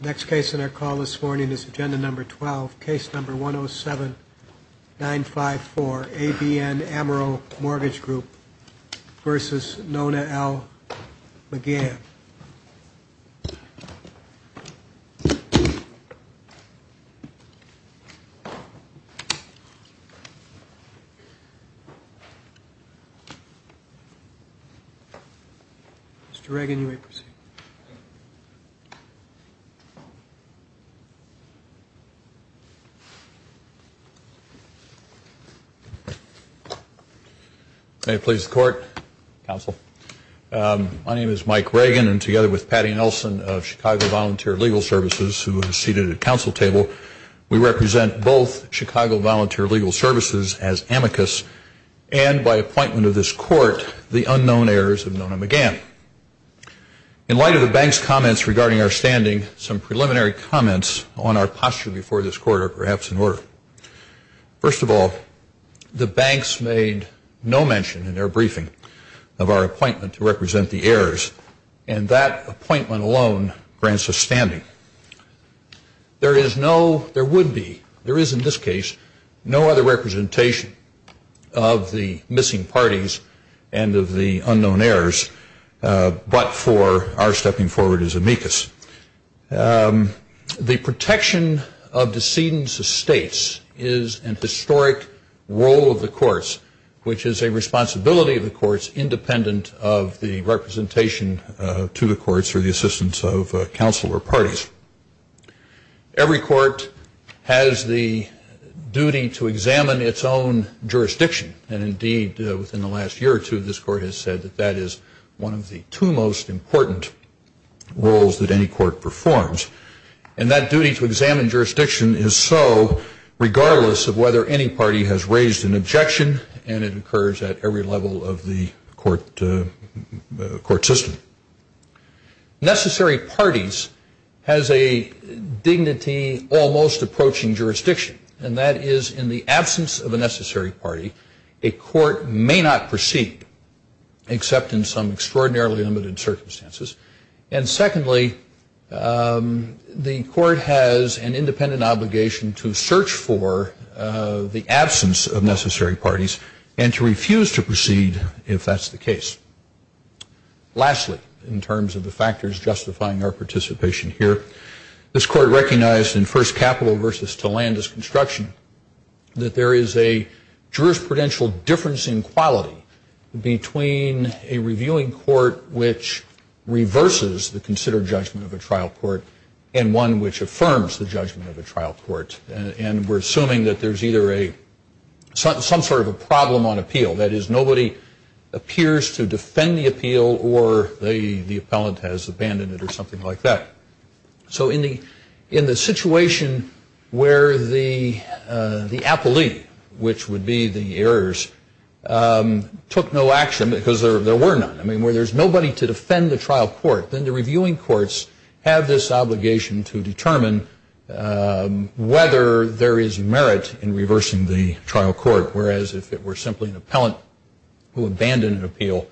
Next case in our call this morning is Agenda Number 12, Case Number 107-954, ABN AMRO Mortgage Group v. Nona L. McGahan. Mr. Reagan, you may proceed. May it please the Court. Counsel. My name is Mike Reagan, and together with Patty Nelson of Chicago Volunteer Legal Services, who is seated at the Counsel table, we represent both Chicago Volunteer Legal Services as amicus, and by appointment of this Court, the unknown heirs of Nona McGahan. In light of the Bank's comments regarding our standing, some preliminary comments on our posture before this Court are perhaps in order. First of all, the Banks made no mention in their briefing of our appointment to represent the heirs, and that appointment alone grants us standing. There is no, there would be, there is in this case, no other representation of the missing parties and of the unknown heirs, but for our stepping forward as amicus. The protection of decedents' estates is an historic role of the Courts, which is a responsibility of the Courts independent of the representation to the Courts or the assistance of counsel or parties. Every Court has the duty to examine its own jurisdiction, and indeed, within the last year or two, this Court has said that that is one of the two most important roles that any Court performs, and that duty to examine jurisdiction is so regardless of whether any party has raised an objection, and it occurs at every level of the Court system. Necessary parties has a dignity almost approaching jurisdiction, and that is in the absence of a necessary party, a Court may not proceed except in some extraordinarily limited circumstances, and secondly, the Court has an independent obligation to search for the absence of necessary parties and to refuse to proceed if that's the case. Lastly, in terms of the factors justifying our participation here, this Court recognized in First Capital v. Tillandus Construction that there is a jurisprudential difference in quality between a reviewing court which reverses the considered judgment of a trial court and one which affirms the judgment of a trial court, and we're assuming that there's either some sort of a problem on appeal, that is nobody appears to defend the appeal or the appellant has abandoned it or something like that. So in the situation where the appellee, which would be the errors, took no action because there were none, I mean, where there's nobody to defend the trial court, then the reviewing courts have this obligation to determine whether there is merit in reversing the trial court, whereas if it were simply an appellant who abandoned an appeal,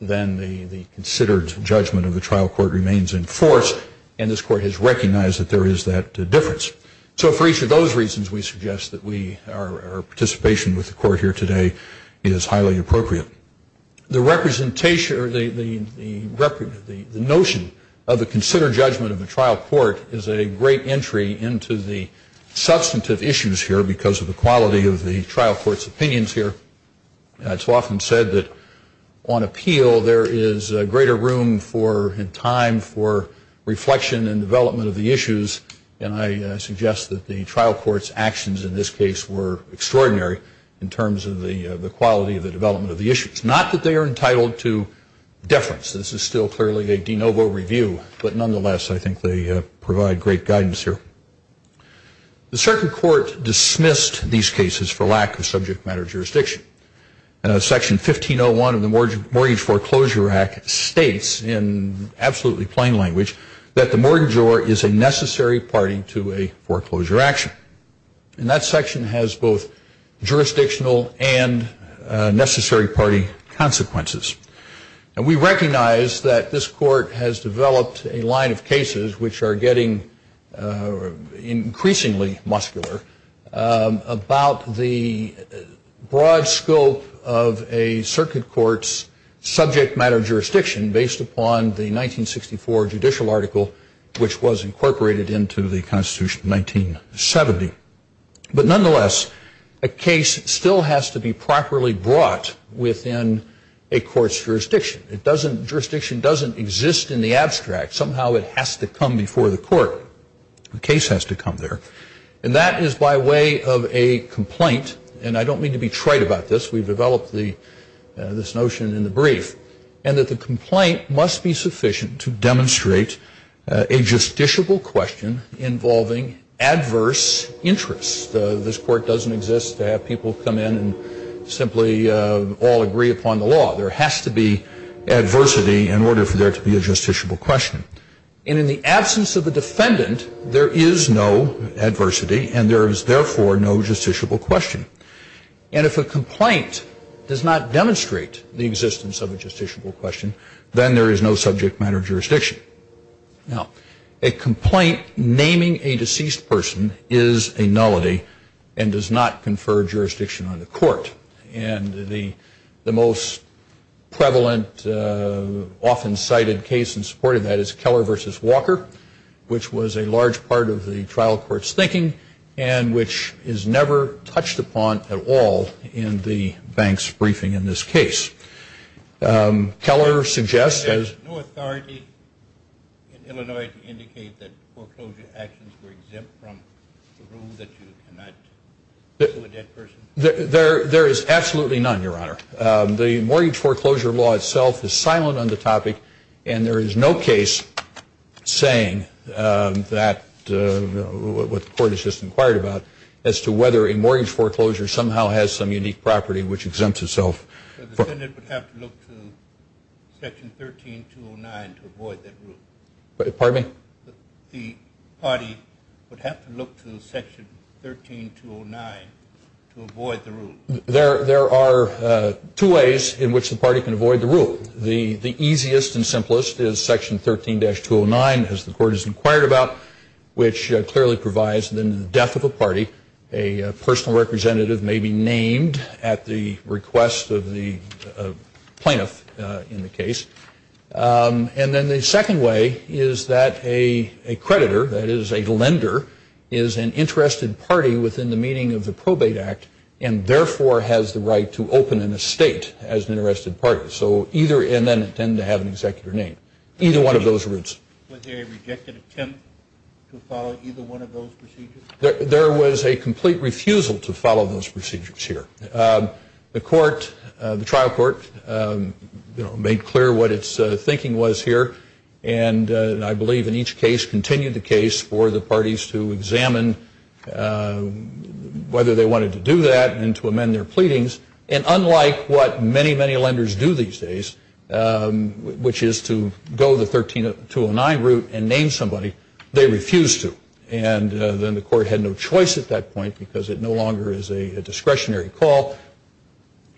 then the considered judgment of the trial court remains in force, and this Court has recognized that there is that difference. So for each of those reasons, we suggest that our participation with the Court here today is highly appropriate. The notion of the considered judgment of the trial court is a great entry into the substantive issues here because of the quality of the trial court's opinions here. It's often said that on appeal, there is greater room and time for reflection and development of the issues, and I suggest that the trial court's actions in this case were extraordinary in terms of the quality of the development of the issues. Not that they are entitled to deference. This is still clearly a de novo review, but nonetheless, I think they provide great guidance here. The circuit court dismissed these cases for lack of subject matter jurisdiction. Section 1501 of the Mortgage Foreclosure Act states, in absolutely plain language, that the mortgagor is a necessary party to a foreclosure action, and that section has both jurisdictional and necessary party consequences. And we recognize that this Court has developed a line of cases which are getting increasingly muscular about the broad scope of a circuit court's subject matter jurisdiction based upon the 1964 judicial article, which was incorporated into the Constitution in 1970. But nonetheless, a case still has to be properly brought within a court's jurisdiction. Jurisdiction doesn't exist in the abstract. Somehow it has to come before the court. The case has to come there. And that is by way of a complaint. And I don't mean to be trite about this. We've developed this notion in the brief. And that the complaint must be sufficient to demonstrate a justiciable question involving adverse interests. This Court doesn't exist to have people come in and simply all agree upon the law. There has to be adversity in order for there to be a justiciable question. And in the absence of a defendant, there is no adversity, and there is therefore no justiciable question. And if a complaint does not demonstrate the existence of a justiciable question, then there is no subject matter jurisdiction. Now, a complaint naming a deceased person is a nullity and does not confer jurisdiction on the court. And the most prevalent, often cited case in support of that is Keller v. Walker, which was a large part of the trial court's thinking, and which is never touched upon at all in the bank's briefing in this case. Keller suggests as no authority in Illinois to indicate that foreclosure actions were exempt from the rule that you cannot sue a dead person. There is absolutely none, Your Honor. The mortgage foreclosure law itself is silent on the topic, and there is no case saying what the court has just inquired about as to whether a mortgage foreclosure somehow has some unique property which exempts itself. The defendant would have to look to Section 13209 to avoid that rule. Pardon me? The party would have to look to Section 13209 to avoid the rule. There are two ways in which the party can avoid the rule. The easiest and simplest is Section 13-209, as the court has inquired about, which clearly provides that in the death of a party, a personal representative may be named at the request of the plaintiff in the case. And then the second way is that a creditor, that is a lender, is an interested party within the meaning of the Probate Act and therefore has the right to open an estate as an interested party. So either and then tend to have an executive name. Either one of those routes. Was there a rejected attempt to follow either one of those procedures? There was a complete refusal to follow those procedures here. The court, the trial court, made clear what its thinking was here. And I believe in each case continued the case for the parties to examine whether they wanted to do that and to amend their pleadings. And unlike what many, many lenders do these days, which is to go the 13-209 route and name somebody, they refused to. And then the court had no choice at that point because it no longer is a discretionary call.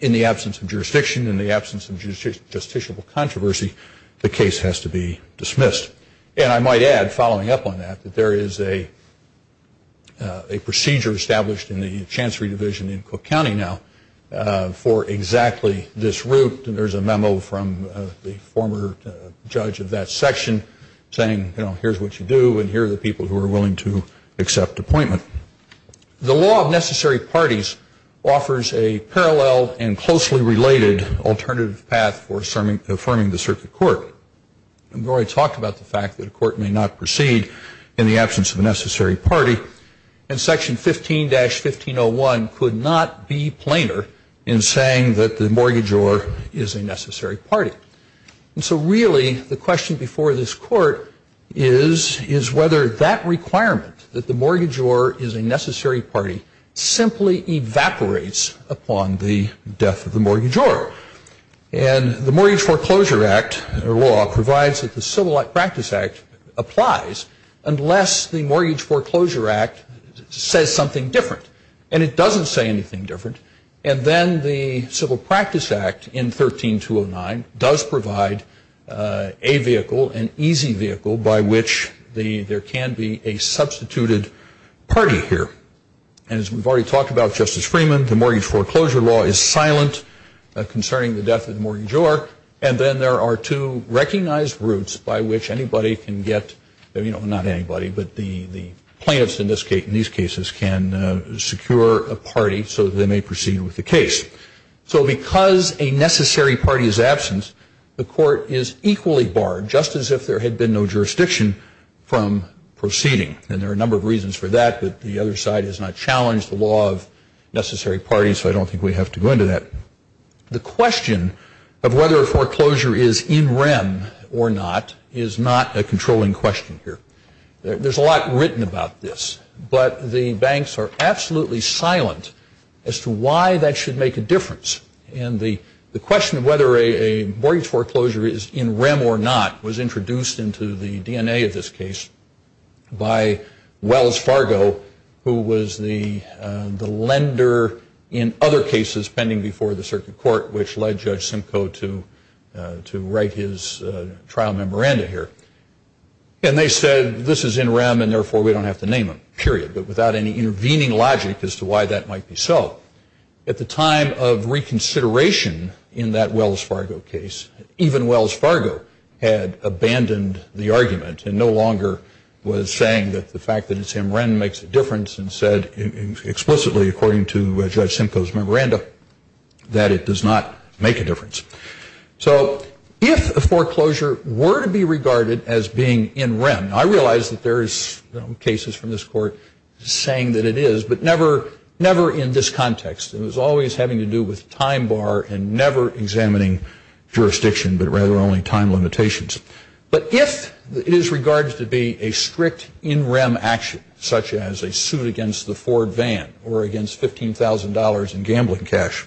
In the absence of jurisdiction, in the absence of justiciable controversy, the case has to be dismissed. And I might add, following up on that, that there is a procedure established in the Chancery Division in Cook County now for exactly this route. And there's a memo from the former judge of that section saying, you know, here's what you do and here are the people who are willing to accept appointment. The law of necessary parties offers a parallel and closely related alternative path for affirming the circuit court. I've already talked about the fact that a court may not proceed in the absence of a necessary party. And Section 15-1501 could not be plainer in saying that the mortgagor is a necessary party. And so really the question before this court is whether that requirement, that the mortgagor is a necessary party, simply evaporates upon the death of the mortgagor. And the Mortgage Foreclosure Act law provides that the Civil Practice Act applies unless the Mortgage Foreclosure Act says something different. And it doesn't say anything different. And then the Civil Practice Act in 13-209 does provide a vehicle, an easy vehicle, by which there can be a substituted party here. And as we've already talked about, Justice Freeman, the Mortgage Foreclosure Law is silent concerning the death of the mortgagor. And then there are two recognized routes by which anybody can get, you know, not anybody, but the plaintiffs in these cases can secure a party so that they may proceed with the case. So because a necessary party is absent, the court is equally barred, just as if there had been no jurisdiction, from proceeding. And there are a number of reasons for that, but the other side has not challenged the law of necessary parties, so I don't think we have to go into that. The question of whether a foreclosure is in rem or not is not a controlling question here. There's a lot written about this, but the banks are absolutely silent as to why that should make a difference. And the question of whether a mortgage foreclosure is in rem or not was introduced into the DNA of this case by Wells Fargo, who was the lender in other cases pending before the circuit court, which led Judge Simcoe to write his trial memoranda here. And they said, this is in rem, and therefore we don't have to name him, period, but without any intervening logic as to why that might be so. At the time of reconsideration in that Wells Fargo case, even Wells Fargo had abandoned the argument and no longer was saying that the fact that it's in rem makes a difference and said explicitly, according to Judge Simcoe's memoranda, that it does not make a difference. So if a foreclosure were to be regarded as being in rem, I realize that there's cases from this court saying that it is, but never in this context. It was always having to do with time bar and never examining jurisdiction, but rather only time limitations. But if it is regarded to be a strict in rem action, such as a suit against the Ford van or against $15,000 in gambling cash,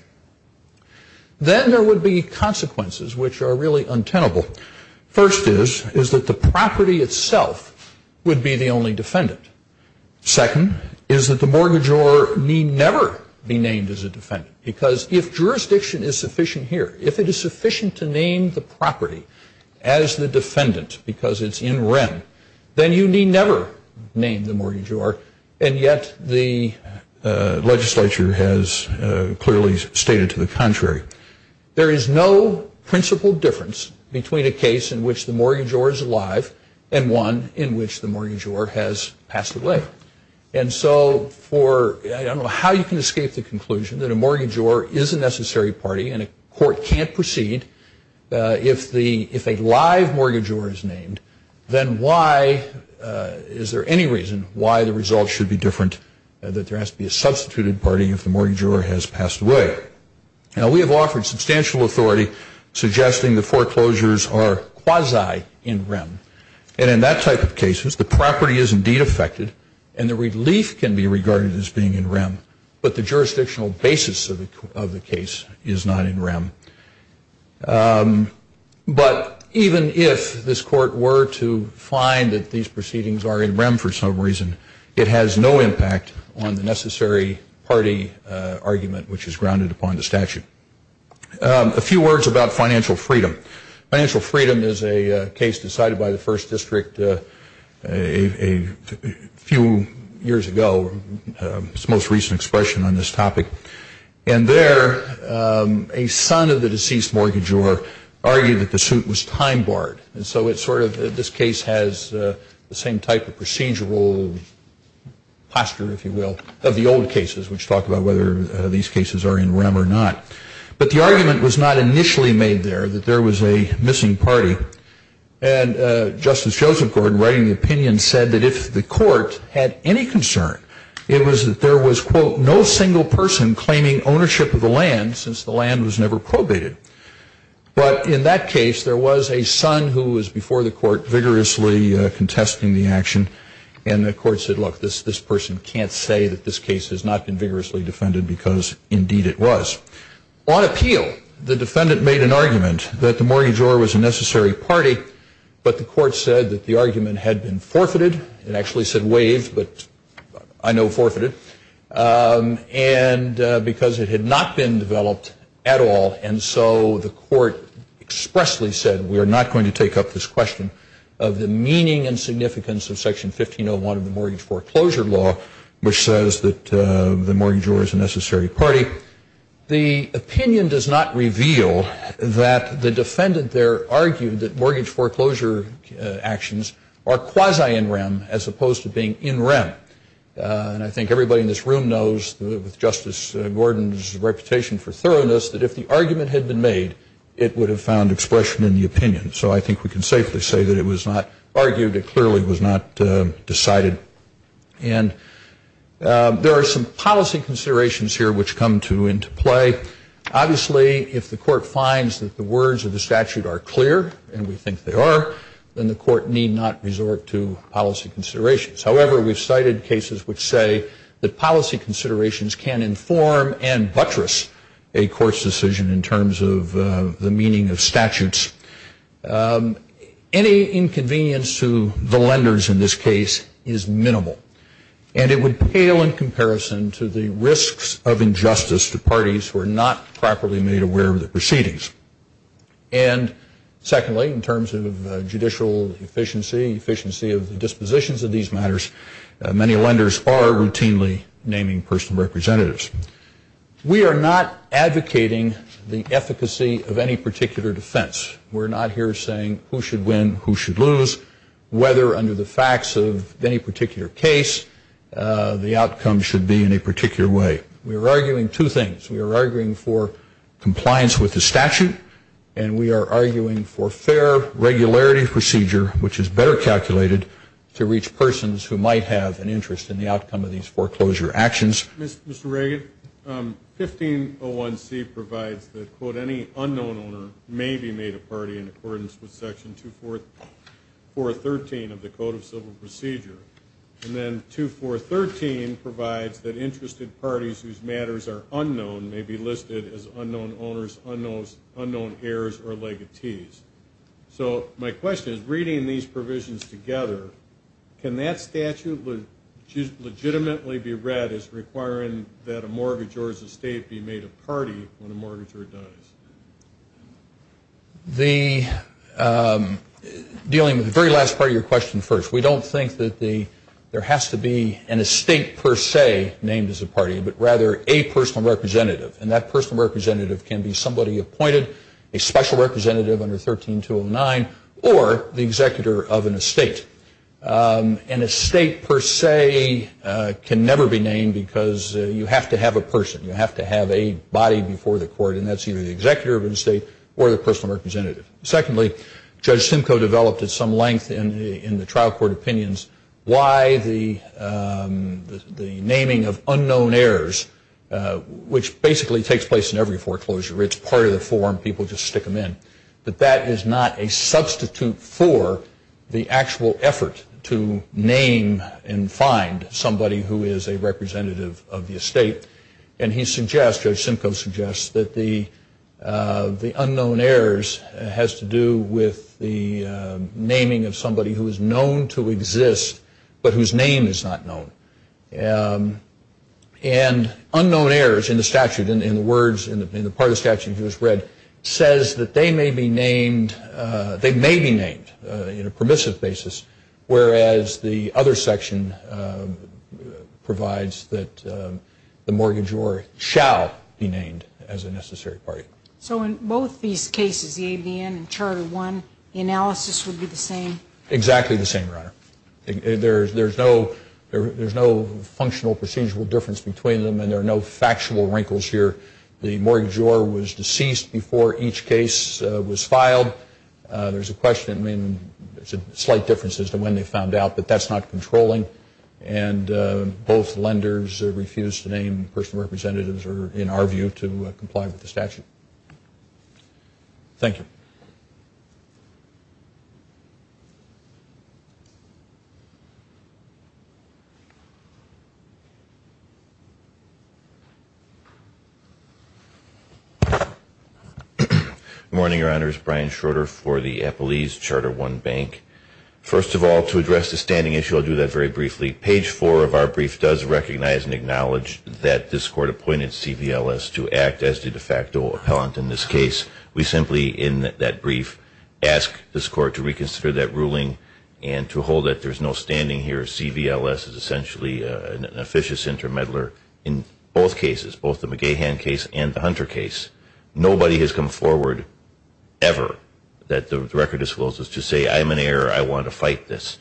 then there would be consequences which are really untenable. First is that the property itself would be the only defendant. Second is that the mortgagor need never be named as a defendant, because if jurisdiction is sufficient here, if it is sufficient to name the property as the defendant because it's in rem, then you need never name the mortgagor, and yet the legislature has clearly stated to the contrary. There is no principal difference between a case in which the mortgagor is alive and one in which the mortgagor has passed away. And so for, I don't know how you can escape the conclusion that a mortgagor is a necessary party and a court can't proceed if a live mortgagor is named, then why, is there any reason why the results should be different, that there has to be a substituted party if the mortgagor has passed away? Now we have offered substantial authority suggesting the foreclosures are quasi in rem, and in that type of cases the property is indeed affected and the relief can be regarded as being in rem, but the jurisdictional basis of the case is not in rem. But even if this court were to find that these proceedings are in rem for some reason, it has no impact on the necessary party argument which is grounded upon the statute. A few words about financial freedom. Financial freedom is a case decided by the first district a few years ago, its most recent expression on this topic. And there a son of the deceased mortgagor argued that the suit was time barred, and so this case has the same type of procedural posture, if you will, of the old cases, which talk about whether these cases are in rem or not. But the argument was not initially made there, that there was a missing party, and Justice Joseph Gordon, writing the opinion, said that if the court had any concern, it was that there was, quote, no single person claiming ownership of the land since the land was never probated. But in that case, there was a son who was before the court vigorously contesting the action, and the court said, look, this person can't say that this case has not been vigorously defended, because indeed it was. On appeal, the defendant made an argument that the mortgagor was a necessary party, but the court said that the argument had been forfeited. It actually said waived, but I know forfeited. And because it had not been developed at all, and so the court expressly said we are not going to take up this question of the meaning and significance of Section 1501 of the Mortgage Foreclosure Law, which says that the mortgagor is a necessary party. The opinion does not reveal that the defendant there argued that mortgage foreclosure actions are quasi in rem, as opposed to being in rem. And I think everybody in this room knows, with Justice Gordon's reputation for thoroughness, that if the argument had been made, it would have found expression in the opinion. So I think we can safely say that it was not argued. It clearly was not decided. And there are some policy considerations here which come into play. Obviously, if the court finds that the words of the statute are clear, and we think they are, then the court need not resort to policy considerations. However, we've cited cases which say that policy considerations can inform and buttress a court's decision in terms of the meaning of statutes. Any inconvenience to the lenders in this case is minimal, and it would pale in comparison to the risks of injustice to parties who are not properly made aware of the proceedings. And secondly, in terms of judicial efficiency, efficiency of the dispositions of these matters, many lenders are routinely naming personal representatives. We are not advocating the efficacy of any particular defense. We're not here saying who should win, who should lose, whether under the facts of any particular case, the outcome should be in a particular way. We are arguing two things. We are arguing for compliance with the statute, and we are arguing for fair regularity procedure, which is better calculated to reach persons who might have an interest in the outcome of these foreclosure actions. Mr. Reagan, 1501C provides that, quote, any unknown owner may be made a party in accordance with Section 2413 of the Code of Civil Procedure. And then 2413 provides that interested parties whose matters are unknown may be listed as unknown owners, unknown heirs, or legatees. So my question is, reading these provisions together, can that statute legitimately be read as requiring that a mortgagor's estate be made a party when a mortgagor does? Dealing with the very last part of your question first, we don't think that there has to be an estate per se named as a party, but rather a personal representative. And that personal representative can be somebody appointed, a special representative under 13209, or the executor of an estate. An estate per se can never be named because you have to have a person. You have to have a body before the court, and that's either the executor of an estate or the personal representative. Secondly, Judge Simcoe developed at some length in the trial court opinions why the naming of unknown heirs, which basically takes place in every foreclosure. It's part of the form. People just stick them in. But that is not a substitute for the actual effort to name and find somebody who is a representative of the estate. And he suggests, Judge Simcoe suggests, that the unknown heirs has to do with the naming of somebody who is known to exist but whose name is not known. And unknown heirs in the statute, in the words, in the part of the statute that was read, says that they may be named in a permissive basis, whereas the other section provides that the mortgagor shall be named as a necessary party. So in both these cases, the ABN and Charter I, the analysis would be the same? Exactly the same, Your Honor. There's no functional procedural difference between them, and there are no factual wrinkles here. The mortgagor was deceased before each case was filed. There's a slight difference as to when they found out, but that's not controlling. And both lenders refuse to name personal representatives or, in our view, to comply with the statute. Thank you. Good morning, Your Honors. Brian Schroeder for the Epelese Charter I Bank. First of all, to address the standing issue, I'll do that very briefly. Page 4 of our brief does recognize and acknowledge that this Court appointed CVLS to act as the de facto appellant in this case. We simply, in that brief, ask this Court to reconsider that ruling and to hold that there's no standing here. CVLS is essentially an officious intermeddler in both cases, both the McGahan case and the Hunter case. Nobody has come forward ever that the record discloses to say, I'm an error, I want to fight this.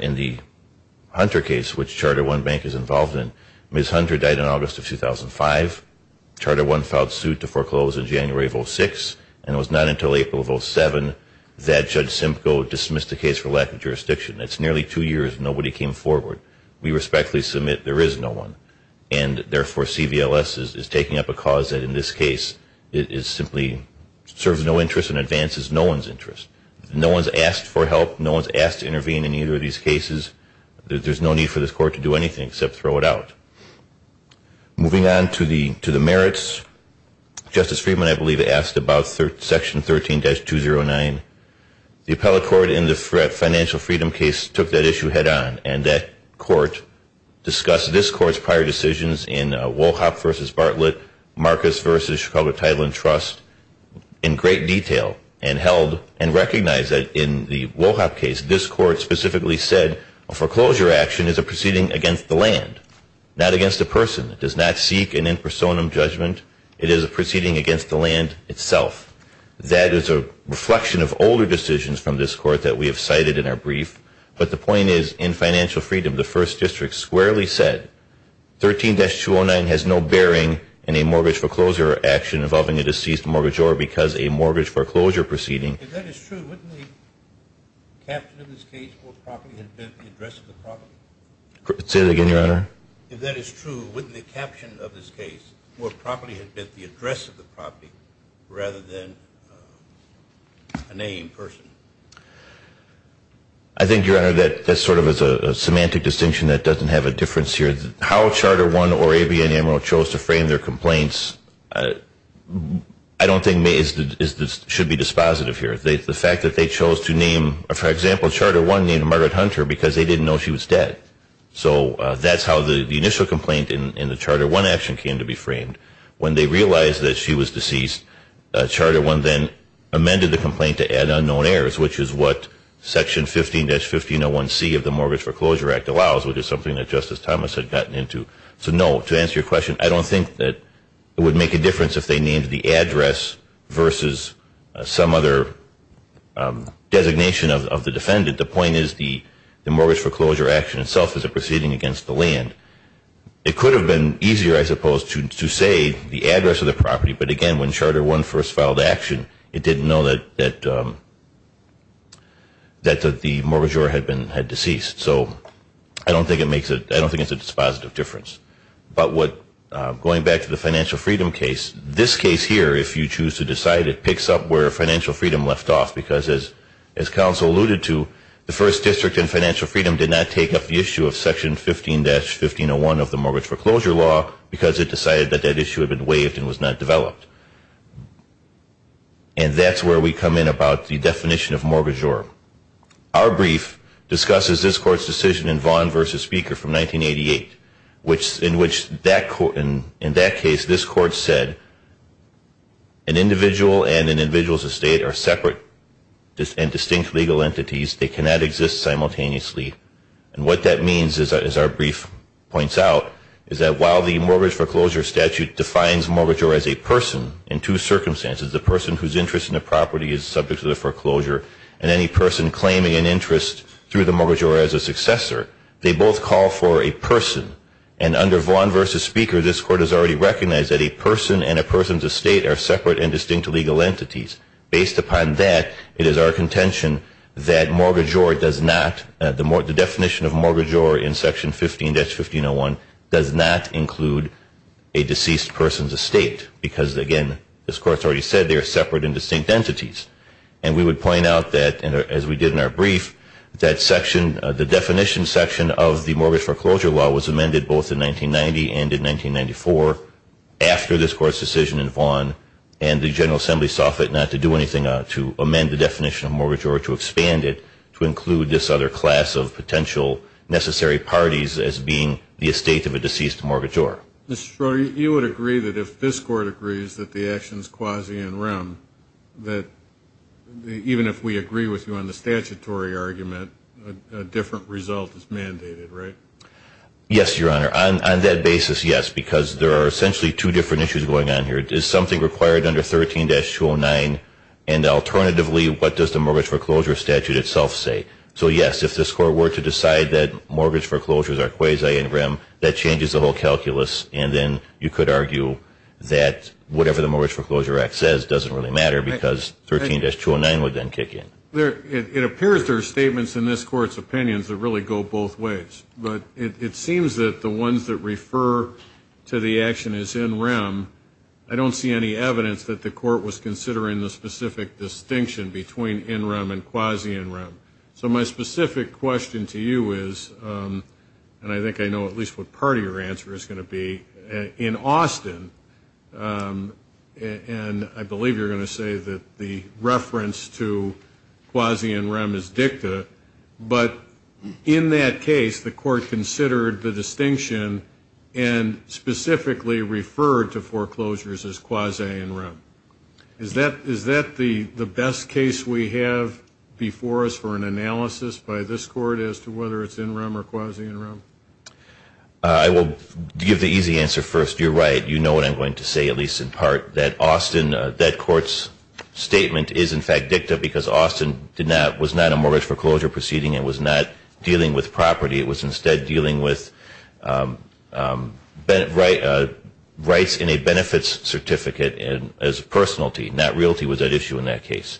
In the Hunter case, which Charter I Bank is involved in, Ms. Hunter died in August of 2005. Charter I filed suit to foreclose in January of 06, and it was not until April of 07 that Judge Simcoe dismissed the case for lack of jurisdiction. That's nearly two years. Nobody came forward. We respectfully submit there is no one. And, therefore, CVLS is taking up a cause that, in this case, simply serves no interest and advances no one's interest. No one's asked for help. No one's asked to intervene in either of these cases. There's no need for this Court to do anything except throw it out. Moving on to the merits, Justice Friedman, I believe, asked about Section 13-209. The Appellate Court in the Financial Freedom case took that issue head-on, and that Court discussed this Court's prior decisions in Wohlhoff v. Bartlett, Marcus v. Chicago Title and Trust, in great detail and held and recognized that in the Wohlhoff case, this Court specifically said a foreclosure action is a proceeding against the land, not against a person. It does not seek an in personam judgment. It is a proceeding against the land itself. That is a reflection of older decisions from this Court that we have cited in our brief. But the point is, in Financial Freedom, the First District squarely said, 13-209 has no bearing in a mortgage foreclosure action involving a deceased mortgagor because a mortgage foreclosure proceeding. If that is true, wouldn't the caption of this case more properly have been the address of the property? Say that again, Your Honor. If that is true, wouldn't the caption of this case more properly have been the address of the property rather than a name, person? I think, Your Honor, that's sort of a semantic distinction that doesn't have a difference here. How Charter I or ABN Amarillo chose to frame their complaints, I don't think should be dispositive here. The fact that they chose to name, for example, Charter I named Margaret Hunter because they didn't know she was dead. So that's how the initial complaint in the Charter I action came to be framed. When they realized that she was deceased, Charter I then amended the complaint to add unknown heirs, which is what Section 15-1501C of the Mortgage Foreclosure Act allows, which is something that Justice Thomas had gotten into. So, no, to answer your question, I don't think that it would make a difference if they named the address versus some other designation of the defendant. The point is the mortgage foreclosure action itself is a proceeding against the land. It could have been easier, I suppose, to say the address of the property. But, again, when Charter I first filed action, it didn't know that the mortgagor had been deceased. So I don't think it's a dispositive difference. But going back to the financial freedom case, this case here, if you choose to decide, it picks up where financial freedom left off. Because as counsel alluded to, the First District and financial freedom did not take up the issue of Section 15-1501 of the Mortgage Foreclosure Law because it decided that that issue had been waived and was not developed. And that's where we come in about the definition of mortgagor. Our brief discusses this Court's decision in Vaughn v. Speaker from 1988, in which, in that case, this Court said, an individual and an individual's estate are separate and distinct legal entities. They cannot exist simultaneously. And what that means, as our brief points out, is that while the Mortgage Foreclosure Statute defines mortgagor as a person in two circumstances, the person whose interest in the property is subject to the foreclosure, and any person claiming an interest through the mortgagor as a successor, they both call for a person. And under Vaughn v. Speaker, this Court has already recognized that a person and a person's estate are separate and distinct legal entities. Based upon that, it is our contention that mortgagor does not, the definition of mortgagor in Section 15-1501, does not include a deceased person's estate because, again, this Court has already said they are separate and distinct entities. And we would point out that, as we did in our brief, that section, the definition section of the Mortgage Foreclosure Law was amended both in 1990 and in 1994 after this Court's decision in Vaughn and the General Assembly saw fit not to do anything to amend the definition of mortgagor or to expand it to include this other class of potential necessary parties as being the estate of a deceased mortgagor. Mr. Schroeder, you would agree that if this Court agrees that the action is quasi in rem, that even if we agree with you on the statutory argument, a different result is mandated, right? Yes, Your Honor. On that basis, yes, because there are essentially two different issues going on here. Is something required under 13-209? And alternatively, what does the Mortgage Foreclosure Statute itself say? So, yes, if this Court were to decide that mortgage foreclosures are quasi in rem, that changes the whole calculus. And then you could argue that whatever the Mortgage Foreclosure Act says doesn't really matter because 13-209 would then kick in. It appears there are statements in this Court's opinions that really go both ways. But it seems that the ones that refer to the action as in rem, I don't see any evidence that the Court was considering the specific distinction between in rem and quasi in rem. So my specific question to you is, and I think I know at least what part of your answer is going to be, in Austin, and I believe you're going to say that the reference to quasi in rem is dicta, but in that case the Court considered the distinction and specifically referred to foreclosures as quasi in rem. Is that the best case we have before us for an analysis by this Court as to whether it's in rem or quasi in rem? I will give the easy answer first. You're right. You know what I'm going to say, at least in part, that Court's statement is in fact dicta because Austin was not a mortgage foreclosure proceeding and was not dealing with property. It was instead dealing with rights in a benefits certificate as a personality. Not realty was at issue in that case.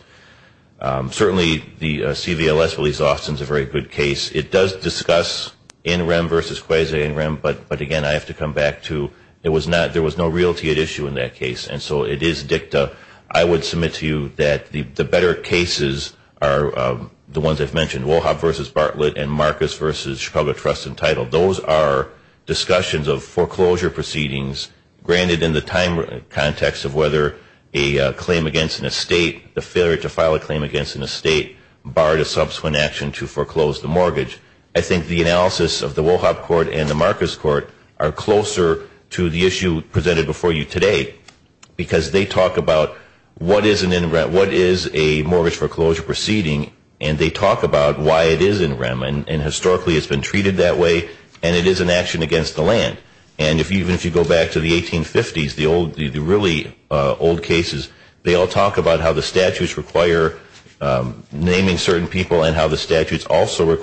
Certainly the CVLS believes Austin is a very good case. It does discuss in rem versus quasi in rem, but again, I have to come back to there was no realty at issue in that case. And so it is dicta. I would submit to you that the better cases are the ones I've mentioned, Wohab v. Bartlett and Marcus v. Chicago Trust Entitled. Those are discussions of foreclosure proceedings granted in the time context of whether a claim against an estate, the failure to file a claim against an estate barred a subsequent action to foreclose the mortgage. I think the analysis of the Wohab court and the Marcus court are closer to the issue presented before you today because they talk about what is a mortgage foreclosure proceeding, and they talk about why it is in rem, and historically it's been treated that way, and it is an action against the land. And even if you go back to the 1850s, the really old cases, they all talk about how the statutes require naming certain people and how the statutes also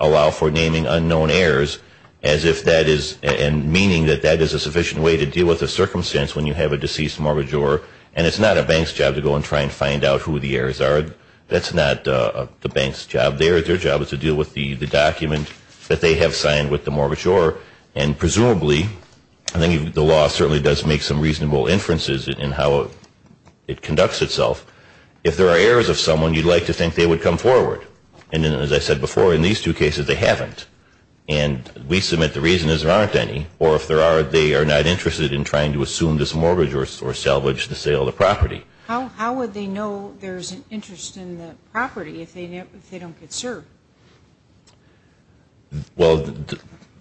allow for naming unknown heirs as if that is, and meaning that that is a sufficient way to deal with a circumstance when you have a deceased mortgagor, and it's not a bank's job to go and try and find out who the heirs are. That's not the bank's job. Their job is to deal with the document that they have signed with the mortgagor, and presumably, I think the law certainly does make some reasonable inferences in how it conducts itself. If there are heirs of someone, you'd like to think they would come forward. And as I said before, in these two cases, they haven't. And we submit the reason is there aren't any, or if there are, they are not interested in trying to assume this mortgage or salvage the sale of the property. How would they know there's an interest in the property if they don't get served? Well,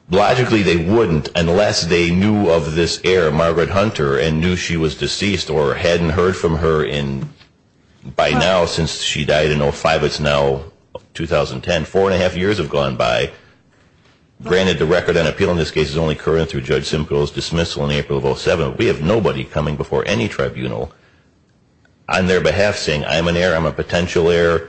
logically they wouldn't unless they knew of this heir, Margaret Hunter, and knew she was deceased or hadn't heard from her in, by now, since she died in 2005. It's now 2010. Four and a half years have gone by. Granted, the record on appeal in this case is only current through Judge Simcoe's dismissal in April of 07. We have nobody coming before any tribunal on their behalf saying, I'm an heir, I'm a potential heir,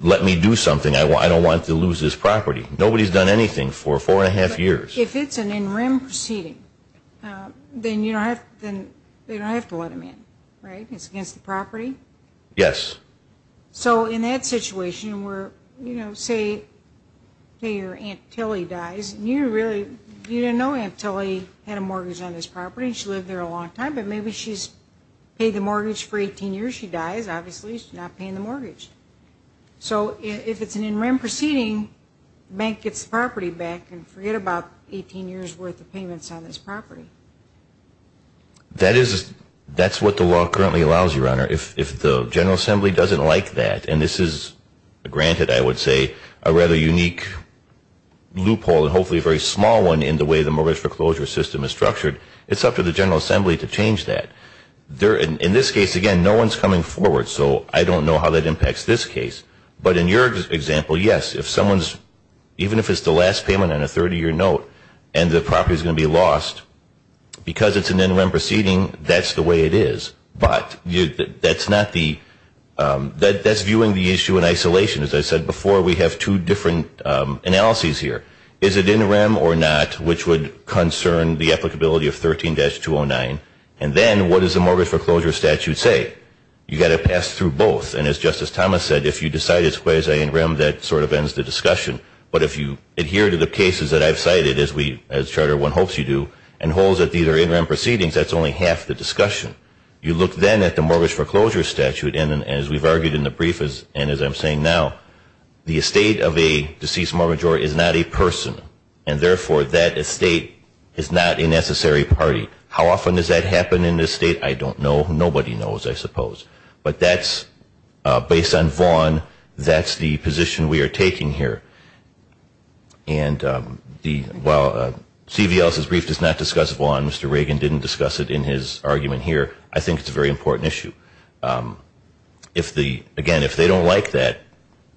let me do something. I don't want to lose this property. Nobody's done anything for four and a half years. If it's an in rem proceeding, then you don't have to let them in, right? It's against the property? Yes. So in that situation where, you know, say your Aunt Tilly dies, and you really didn't know Aunt Tilly had a mortgage on this property, and she lived there a long time, but maybe she's paid the mortgage for 18 years, she dies, obviously she's not paying the mortgage. So if it's an in rem proceeding, the bank gets the property back and forget about 18 years' worth of payments on this property. That is, that's what the law currently allows, Your Honor. If the General Assembly doesn't like that, and this is, granted, I would say, a rather unique loophole and hopefully a very small one in the way the mortgage foreclosure system is structured, it's up to the General Assembly to change that. In this case, again, no one's coming forward, so I don't know how that impacts this case. But in your example, yes, if someone's, even if it's the last payment on a 30-year note and the property's going to be lost, because it's an in rem proceeding, that's the way it is. But that's not the, that's viewing the issue in isolation. As I said before, we have two different analyses here. Is it in rem or not, which would concern the applicability of 13-209? And then what does the mortgage foreclosure statute say? You've got to pass through both. And as Justice Thomas said, if you decide it's quasi-in rem, that sort of ends the discussion. But if you adhere to the cases that I've cited, as we, as Charter I hopes you do, and hold that these are in rem proceedings, that's only half the discussion. You look then at the mortgage foreclosure statute, and as we've argued in the brief, and as I'm saying now, the estate of a deceased mortgagor is not a person, and therefore that estate is not a necessary party. How often does that happen in this state? I don't know. Nobody knows, I suppose. But that's based on Vaughan. That's the position we are taking here. And while C.V. Ellis' brief does not discuss Vaughan, Mr. Reagan didn't discuss it in his argument here, I think it's a very important issue. Again, if they don't like that,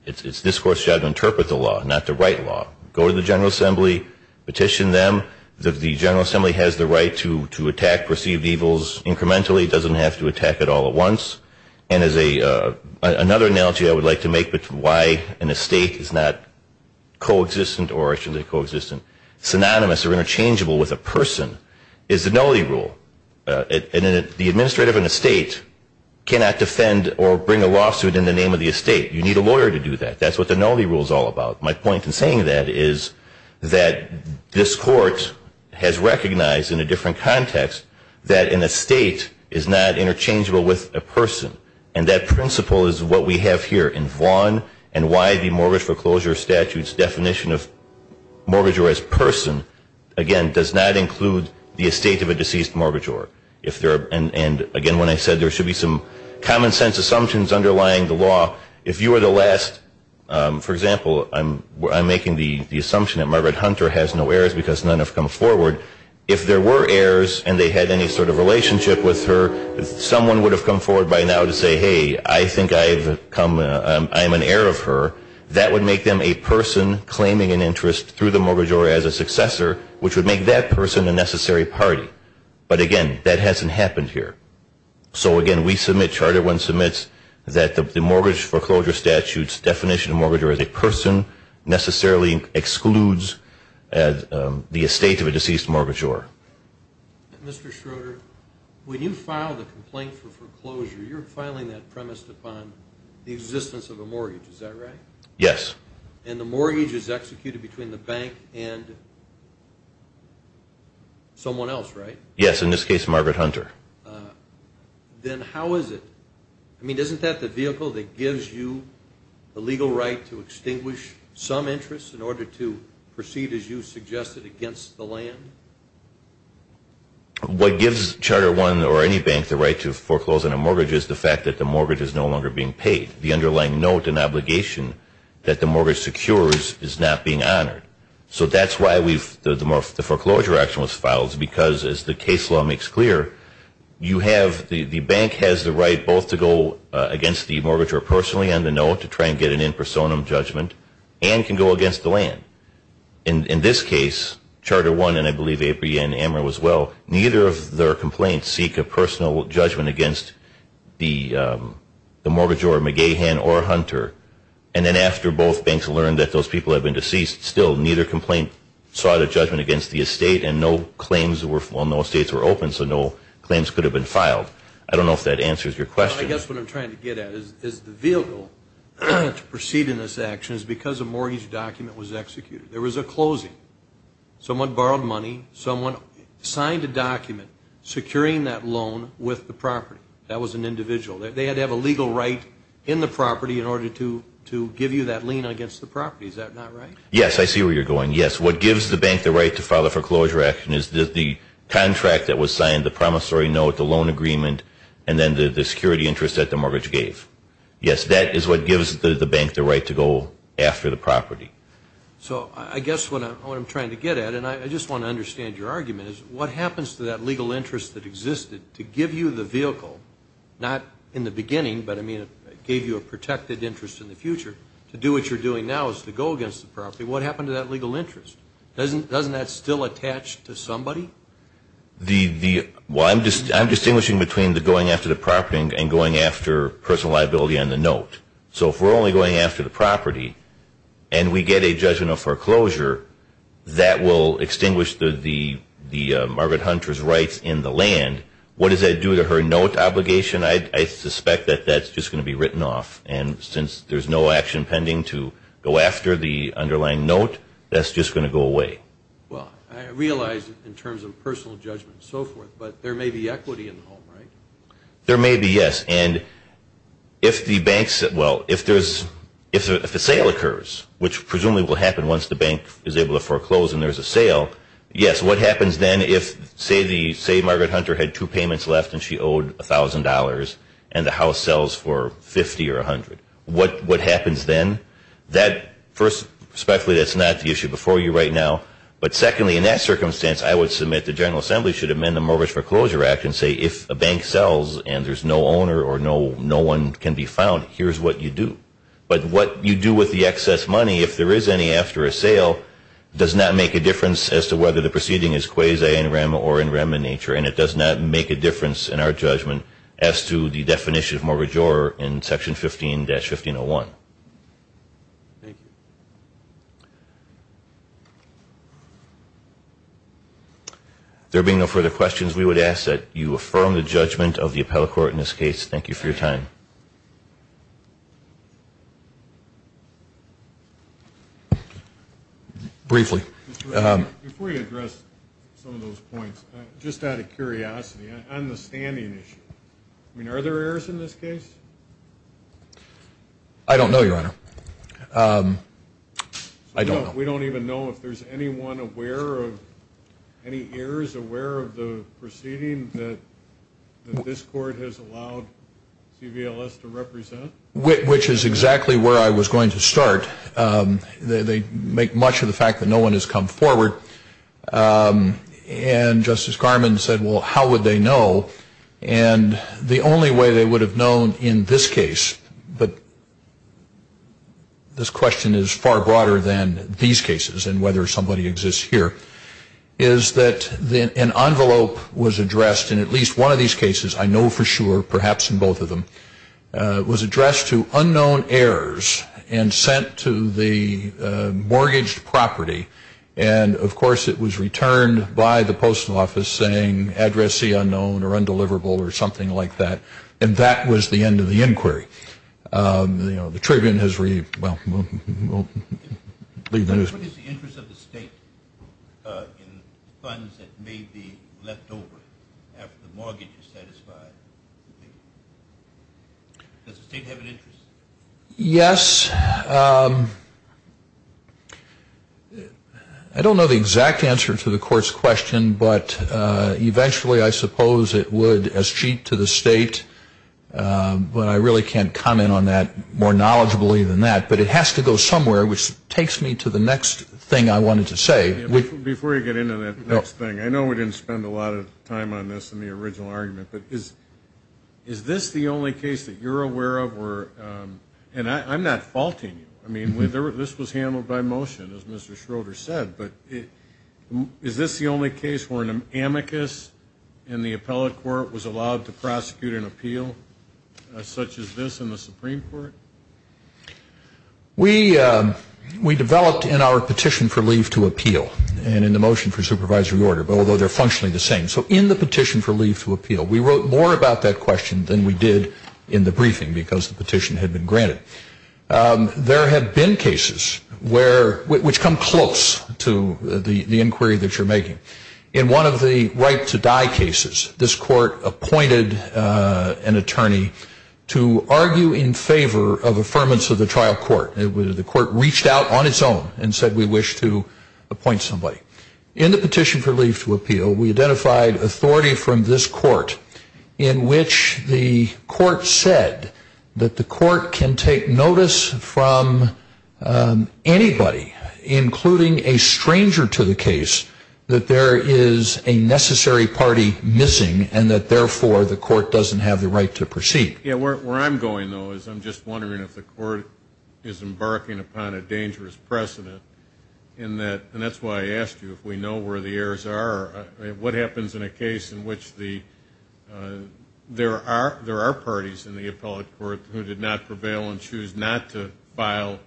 it's this Court's job to interpret the law, not to write law. Go to the General Assembly, petition them. The General Assembly has the right to attack perceived evils incrementally. It doesn't have to attack it all at once. And another analogy I would like to make as to why an estate is not co-existent or synonymous or interchangeable with a person is the nullity rule. The administrator of an estate cannot defend or bring a lawsuit in the name of the estate. You need a lawyer to do that. That's what the nullity rule is all about. My point in saying that is that this Court has recognized in a different context that an estate is not interchangeable with a person. And that principle is what we have here in Vaughan and why the Mortgage Foreclosure Statute's definition of mortgagor as person, again, does not include the estate of a deceased mortgagor. And again, when I said there should be some common-sense assumptions underlying the law, if you were the last, for example, I'm making the assumption that Margaret Hunter has no heirs because none have come forward. If there were heirs and they had any sort of relationship with her, someone would have come forward by now to say, hey, I think I'm an heir of her. That would make them a person claiming an interest through the mortgagor as a successor, which would make that person a necessary party. But, again, that hasn't happened here. So, again, we submit, Charter I submits, that the Mortgage Foreclosure Statute's definition of mortgagor as a person necessarily excludes the estate of a deceased mortgagor. Mr. Schroeder, when you filed a complaint for foreclosure, you're filing that premised upon the existence of a mortgage, is that right? Yes. And the mortgage is executed between the bank and someone else, right? Yes, in this case, Margaret Hunter. Then how is it? I mean, isn't that the vehicle that gives you the legal right to extinguish some interest in order to proceed, as you suggested, against the land? What gives Charter I or any bank the right to foreclose on a mortgage is the fact that the mortgage is no longer being paid. The underlying note and obligation that the mortgage secures is not being honored. So that's why the foreclosure action was filed, because, as the case law makes clear, the bank has the right both to go against the mortgagor personally on the note to try and get an in personam judgment, and can go against the land. In this case, Charter I, and I believe APA and AMRA as well, neither of their complaints seek a personal judgment against the mortgagor, McGahan or Hunter. And then after both banks learned that those people had been deceased, still neither complaint sought a judgment against the estate, and no claims were, well, no estates were open, so no claims could have been filed. I don't know if that answers your question. I guess what I'm trying to get at is the vehicle to proceed in this action is because a mortgage document was executed. There was a closing. Someone borrowed money. Someone signed a document securing that loan with the property. That was an individual. They had to have a legal right in the property in order to give you that lien against the property. Is that not right? Yes, I see where you're going. Yes, what gives the bank the right to file a foreclosure action is the contract that was signed, the promissory note, the loan agreement, and then the security interest that the mortgage gave. Yes, that is what gives the bank the right to go after the property. So I guess what I'm trying to get at, and I just want to understand your argument, is what happens to that legal interest that existed to give you the vehicle, not in the beginning, but, I mean, it gave you a protected interest in the future, to do what you're doing now is to go against the property. What happened to that legal interest? Doesn't that still attach to somebody? Well, I'm distinguishing between the going after the property and going after personal liability on the note. So if we're only going after the property and we get a judgment of foreclosure, that will extinguish Margaret Hunter's rights in the land. And what does that do to her note obligation? I suspect that that's just going to be written off. And since there's no action pending to go after the underlying note, that's just going to go away. Well, I realize in terms of personal judgment and so forth, but there may be equity in the home, right? There may be, yes. And if the sale occurs, which presumably will happen once the bank is able to foreclose and there's a sale, yes. So what happens then if, say, Margaret Hunter had two payments left and she owed $1,000 and the house sells for $50 or $100? What happens then? First, respectfully, that's not the issue before you right now. But secondly, in that circumstance, I would submit the General Assembly should amend the Mortgage Foreclosure Act and say if a bank sells and there's no owner or no one can be found, here's what you do. But what you do with the excess money, if there is any after a sale, does not make a difference as to whether the proceeding is quasi in rem or in rem in nature, and it does not make a difference in our judgment as to the definition of mortgagor in Section 15-1501. Thank you. If there being no further questions, we would ask that you affirm the judgment of the appellate court in this case. Thank you for your time. Briefly. Before you address some of those points, just out of curiosity, on the standing issue, I mean, are there errors in this case? I don't know, Your Honor. We don't even know if there's anyone aware of any errors, Are you just aware of the proceeding that this court has allowed CVLS to represent? Which is exactly where I was going to start. They make much of the fact that no one has come forward. And Justice Garmon said, well, how would they know? And the only way they would have known in this case, but this question is far broader than these cases and whether somebody exists here, is that an envelope was addressed in at least one of these cases, I know for sure, perhaps in both of them, was addressed to unknown heirs and sent to the mortgaged property. And, of course, it was returned by the Postal Office saying address see unknown or undeliverable or something like that. And that was the end of the inquiry. The Tribune has read, well, What is the interest of the state in funds that may be left over after the mortgage is satisfied? Does the state have an interest? Yes. I don't know the exact answer to the court's question, but eventually I suppose it would, as cheat to the state, but I really can't comment on that more knowledgeably than that. But it has to go somewhere, which takes me to the next thing I wanted to say. Before you get into that next thing, I know we didn't spend a lot of time on this in the original argument, but is this the only case that you're aware of where, and I'm not faulting you, I mean, this was handled by motion, as Mr. Schroeder said, but is this the only case where an amicus in the appellate court was allowed to prosecute an appeal such as this in the Supreme Court? We developed in our petition for leave to appeal and in the motion for supervisory order, although they're functionally the same. So in the petition for leave to appeal, we wrote more about that question than we did in the briefing because the petition had been granted. There have been cases which come close to the inquiry that you're making. In one of the right to die cases, this court appointed an attorney to argue in favor of affirmance of the trial court. The court reached out on its own and said we wish to appoint somebody. In the petition for leave to appeal, we identified authority from this court in which the court said that the court can take notice from anybody, including a stranger to the case, that there is a necessary party missing and that, therefore, the court doesn't have the right to proceed. Where I'm going, though, is I'm just wondering if the court is embarking upon a dangerous precedent, and that's why I asked you if we know where the errors are. What happens in a case in which there are parties in the appellate court who did not prevail and choose not to file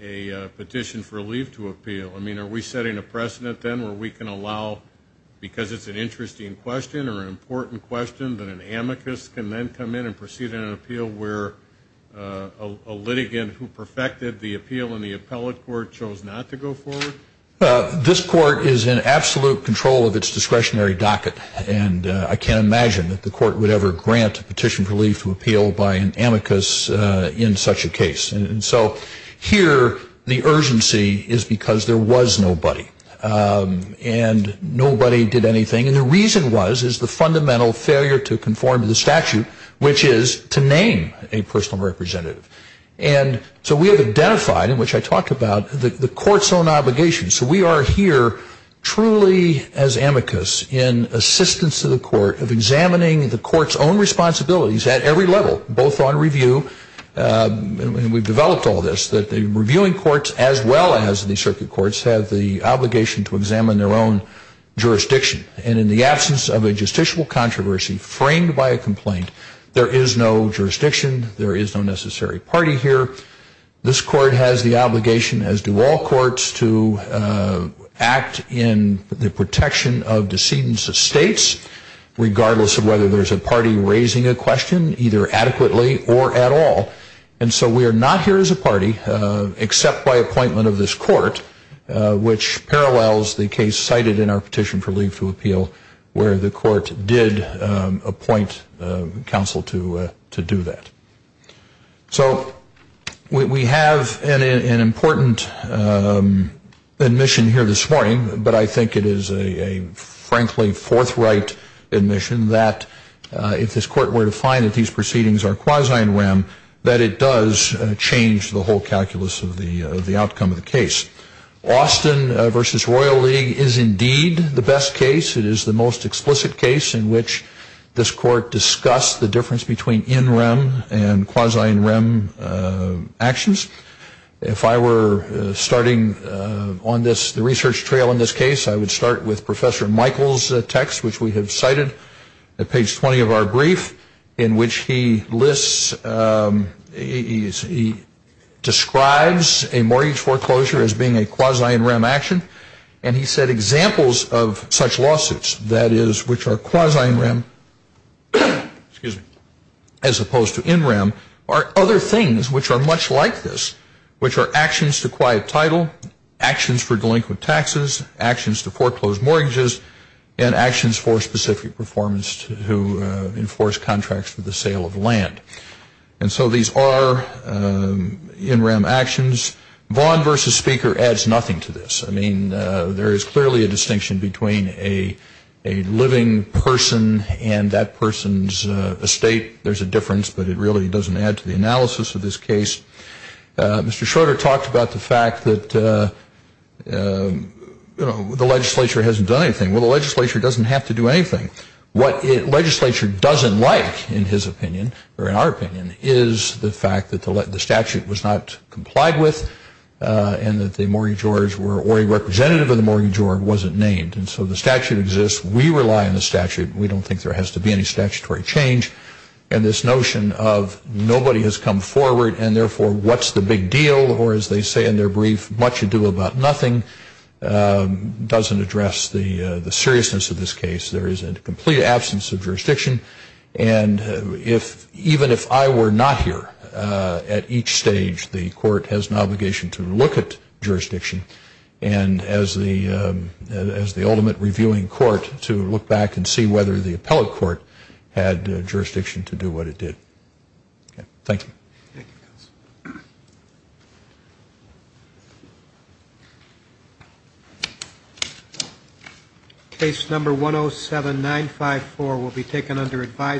a petition for leave to appeal? I mean, are we setting a precedent then where we can allow, because it's an interesting question or an important question, that an amicus can then come in and proceed in an appeal where a litigant who perfected the appeal in the appellate court chose not to go forward? Well, this court is in absolute control of its discretionary docket, and I can't imagine that the court would ever grant a petition for leave to appeal by an amicus in such a case. And so here the urgency is because there was nobody, and nobody did anything. And the reason was is the fundamental failure to conform to the statute, which is to name a personal representative. And so we have identified, in which I talked about, the court's own obligations. So we are here truly as amicus in assistance to the court of examining the court's own responsibilities at every level, both on review, and we've developed all this, that the reviewing courts as well as the circuit courts have the obligation to examine their own jurisdiction. And in the absence of a justiciable controversy framed by a complaint, there is no jurisdiction, there is no necessary party here. This court has the obligation, as do all courts, to act in the protection of decedents of states, regardless of whether there's a party raising a question, either adequately or at all. And so we are not here as a party, except by appointment of this court, which parallels the case cited in our petition for leave to appeal, where the court did appoint counsel to do that. So we have an important admission here this morning, but I think it is a frankly forthright admission that if this court were to find that these proceedings are quasi-in rem, that it does change the whole calculus of the outcome of the case. Austin v. Royal League is indeed the best case. It is the most explicit case in which this court discussed the difference between in rem and quasi-in rem actions. If I were starting on the research trail in this case, I would start with Professor Michael's text, which we have cited at page 20 of our brief, in which he lists, he describes a mortgage foreclosure as being a quasi-in rem action. And he said examples of such lawsuits, that is, which are quasi-in rem, as opposed to in rem, are other things which are much like this, which are actions to quiet title, actions for delinquent taxes, actions to foreclose mortgages, and actions for specific performance to enforce contracts for the sale of land. And so these are in rem actions. Vaughn v. Speaker adds nothing to this. I mean, there is clearly a distinction between a living person and that person's estate. There's a difference, but it really doesn't add to the analysis of this case. Mr. Schroeder talked about the fact that, you know, the legislature hasn't done anything. Well, the legislature doesn't have to do anything. What the legislature doesn't like, in his opinion, or in our opinion, is the fact that the statute was not complied with and that the mortgage owers were, or a representative of the mortgage ower wasn't named. And so the statute exists. We rely on the statute. We don't think there has to be any statutory change. And this notion of nobody has come forward and, therefore, what's the big deal, or as they say in their brief, much ado about nothing, doesn't address the seriousness of this case. There is a complete absence of jurisdiction. And even if I were not here at each stage, the court has an obligation to look at jurisdiction and as the ultimate reviewing court to look back and see whether the appellate court had jurisdiction to do what it did. Okay. Thank you. Thank you, counsel. Case number 107954 will be taken under advisement.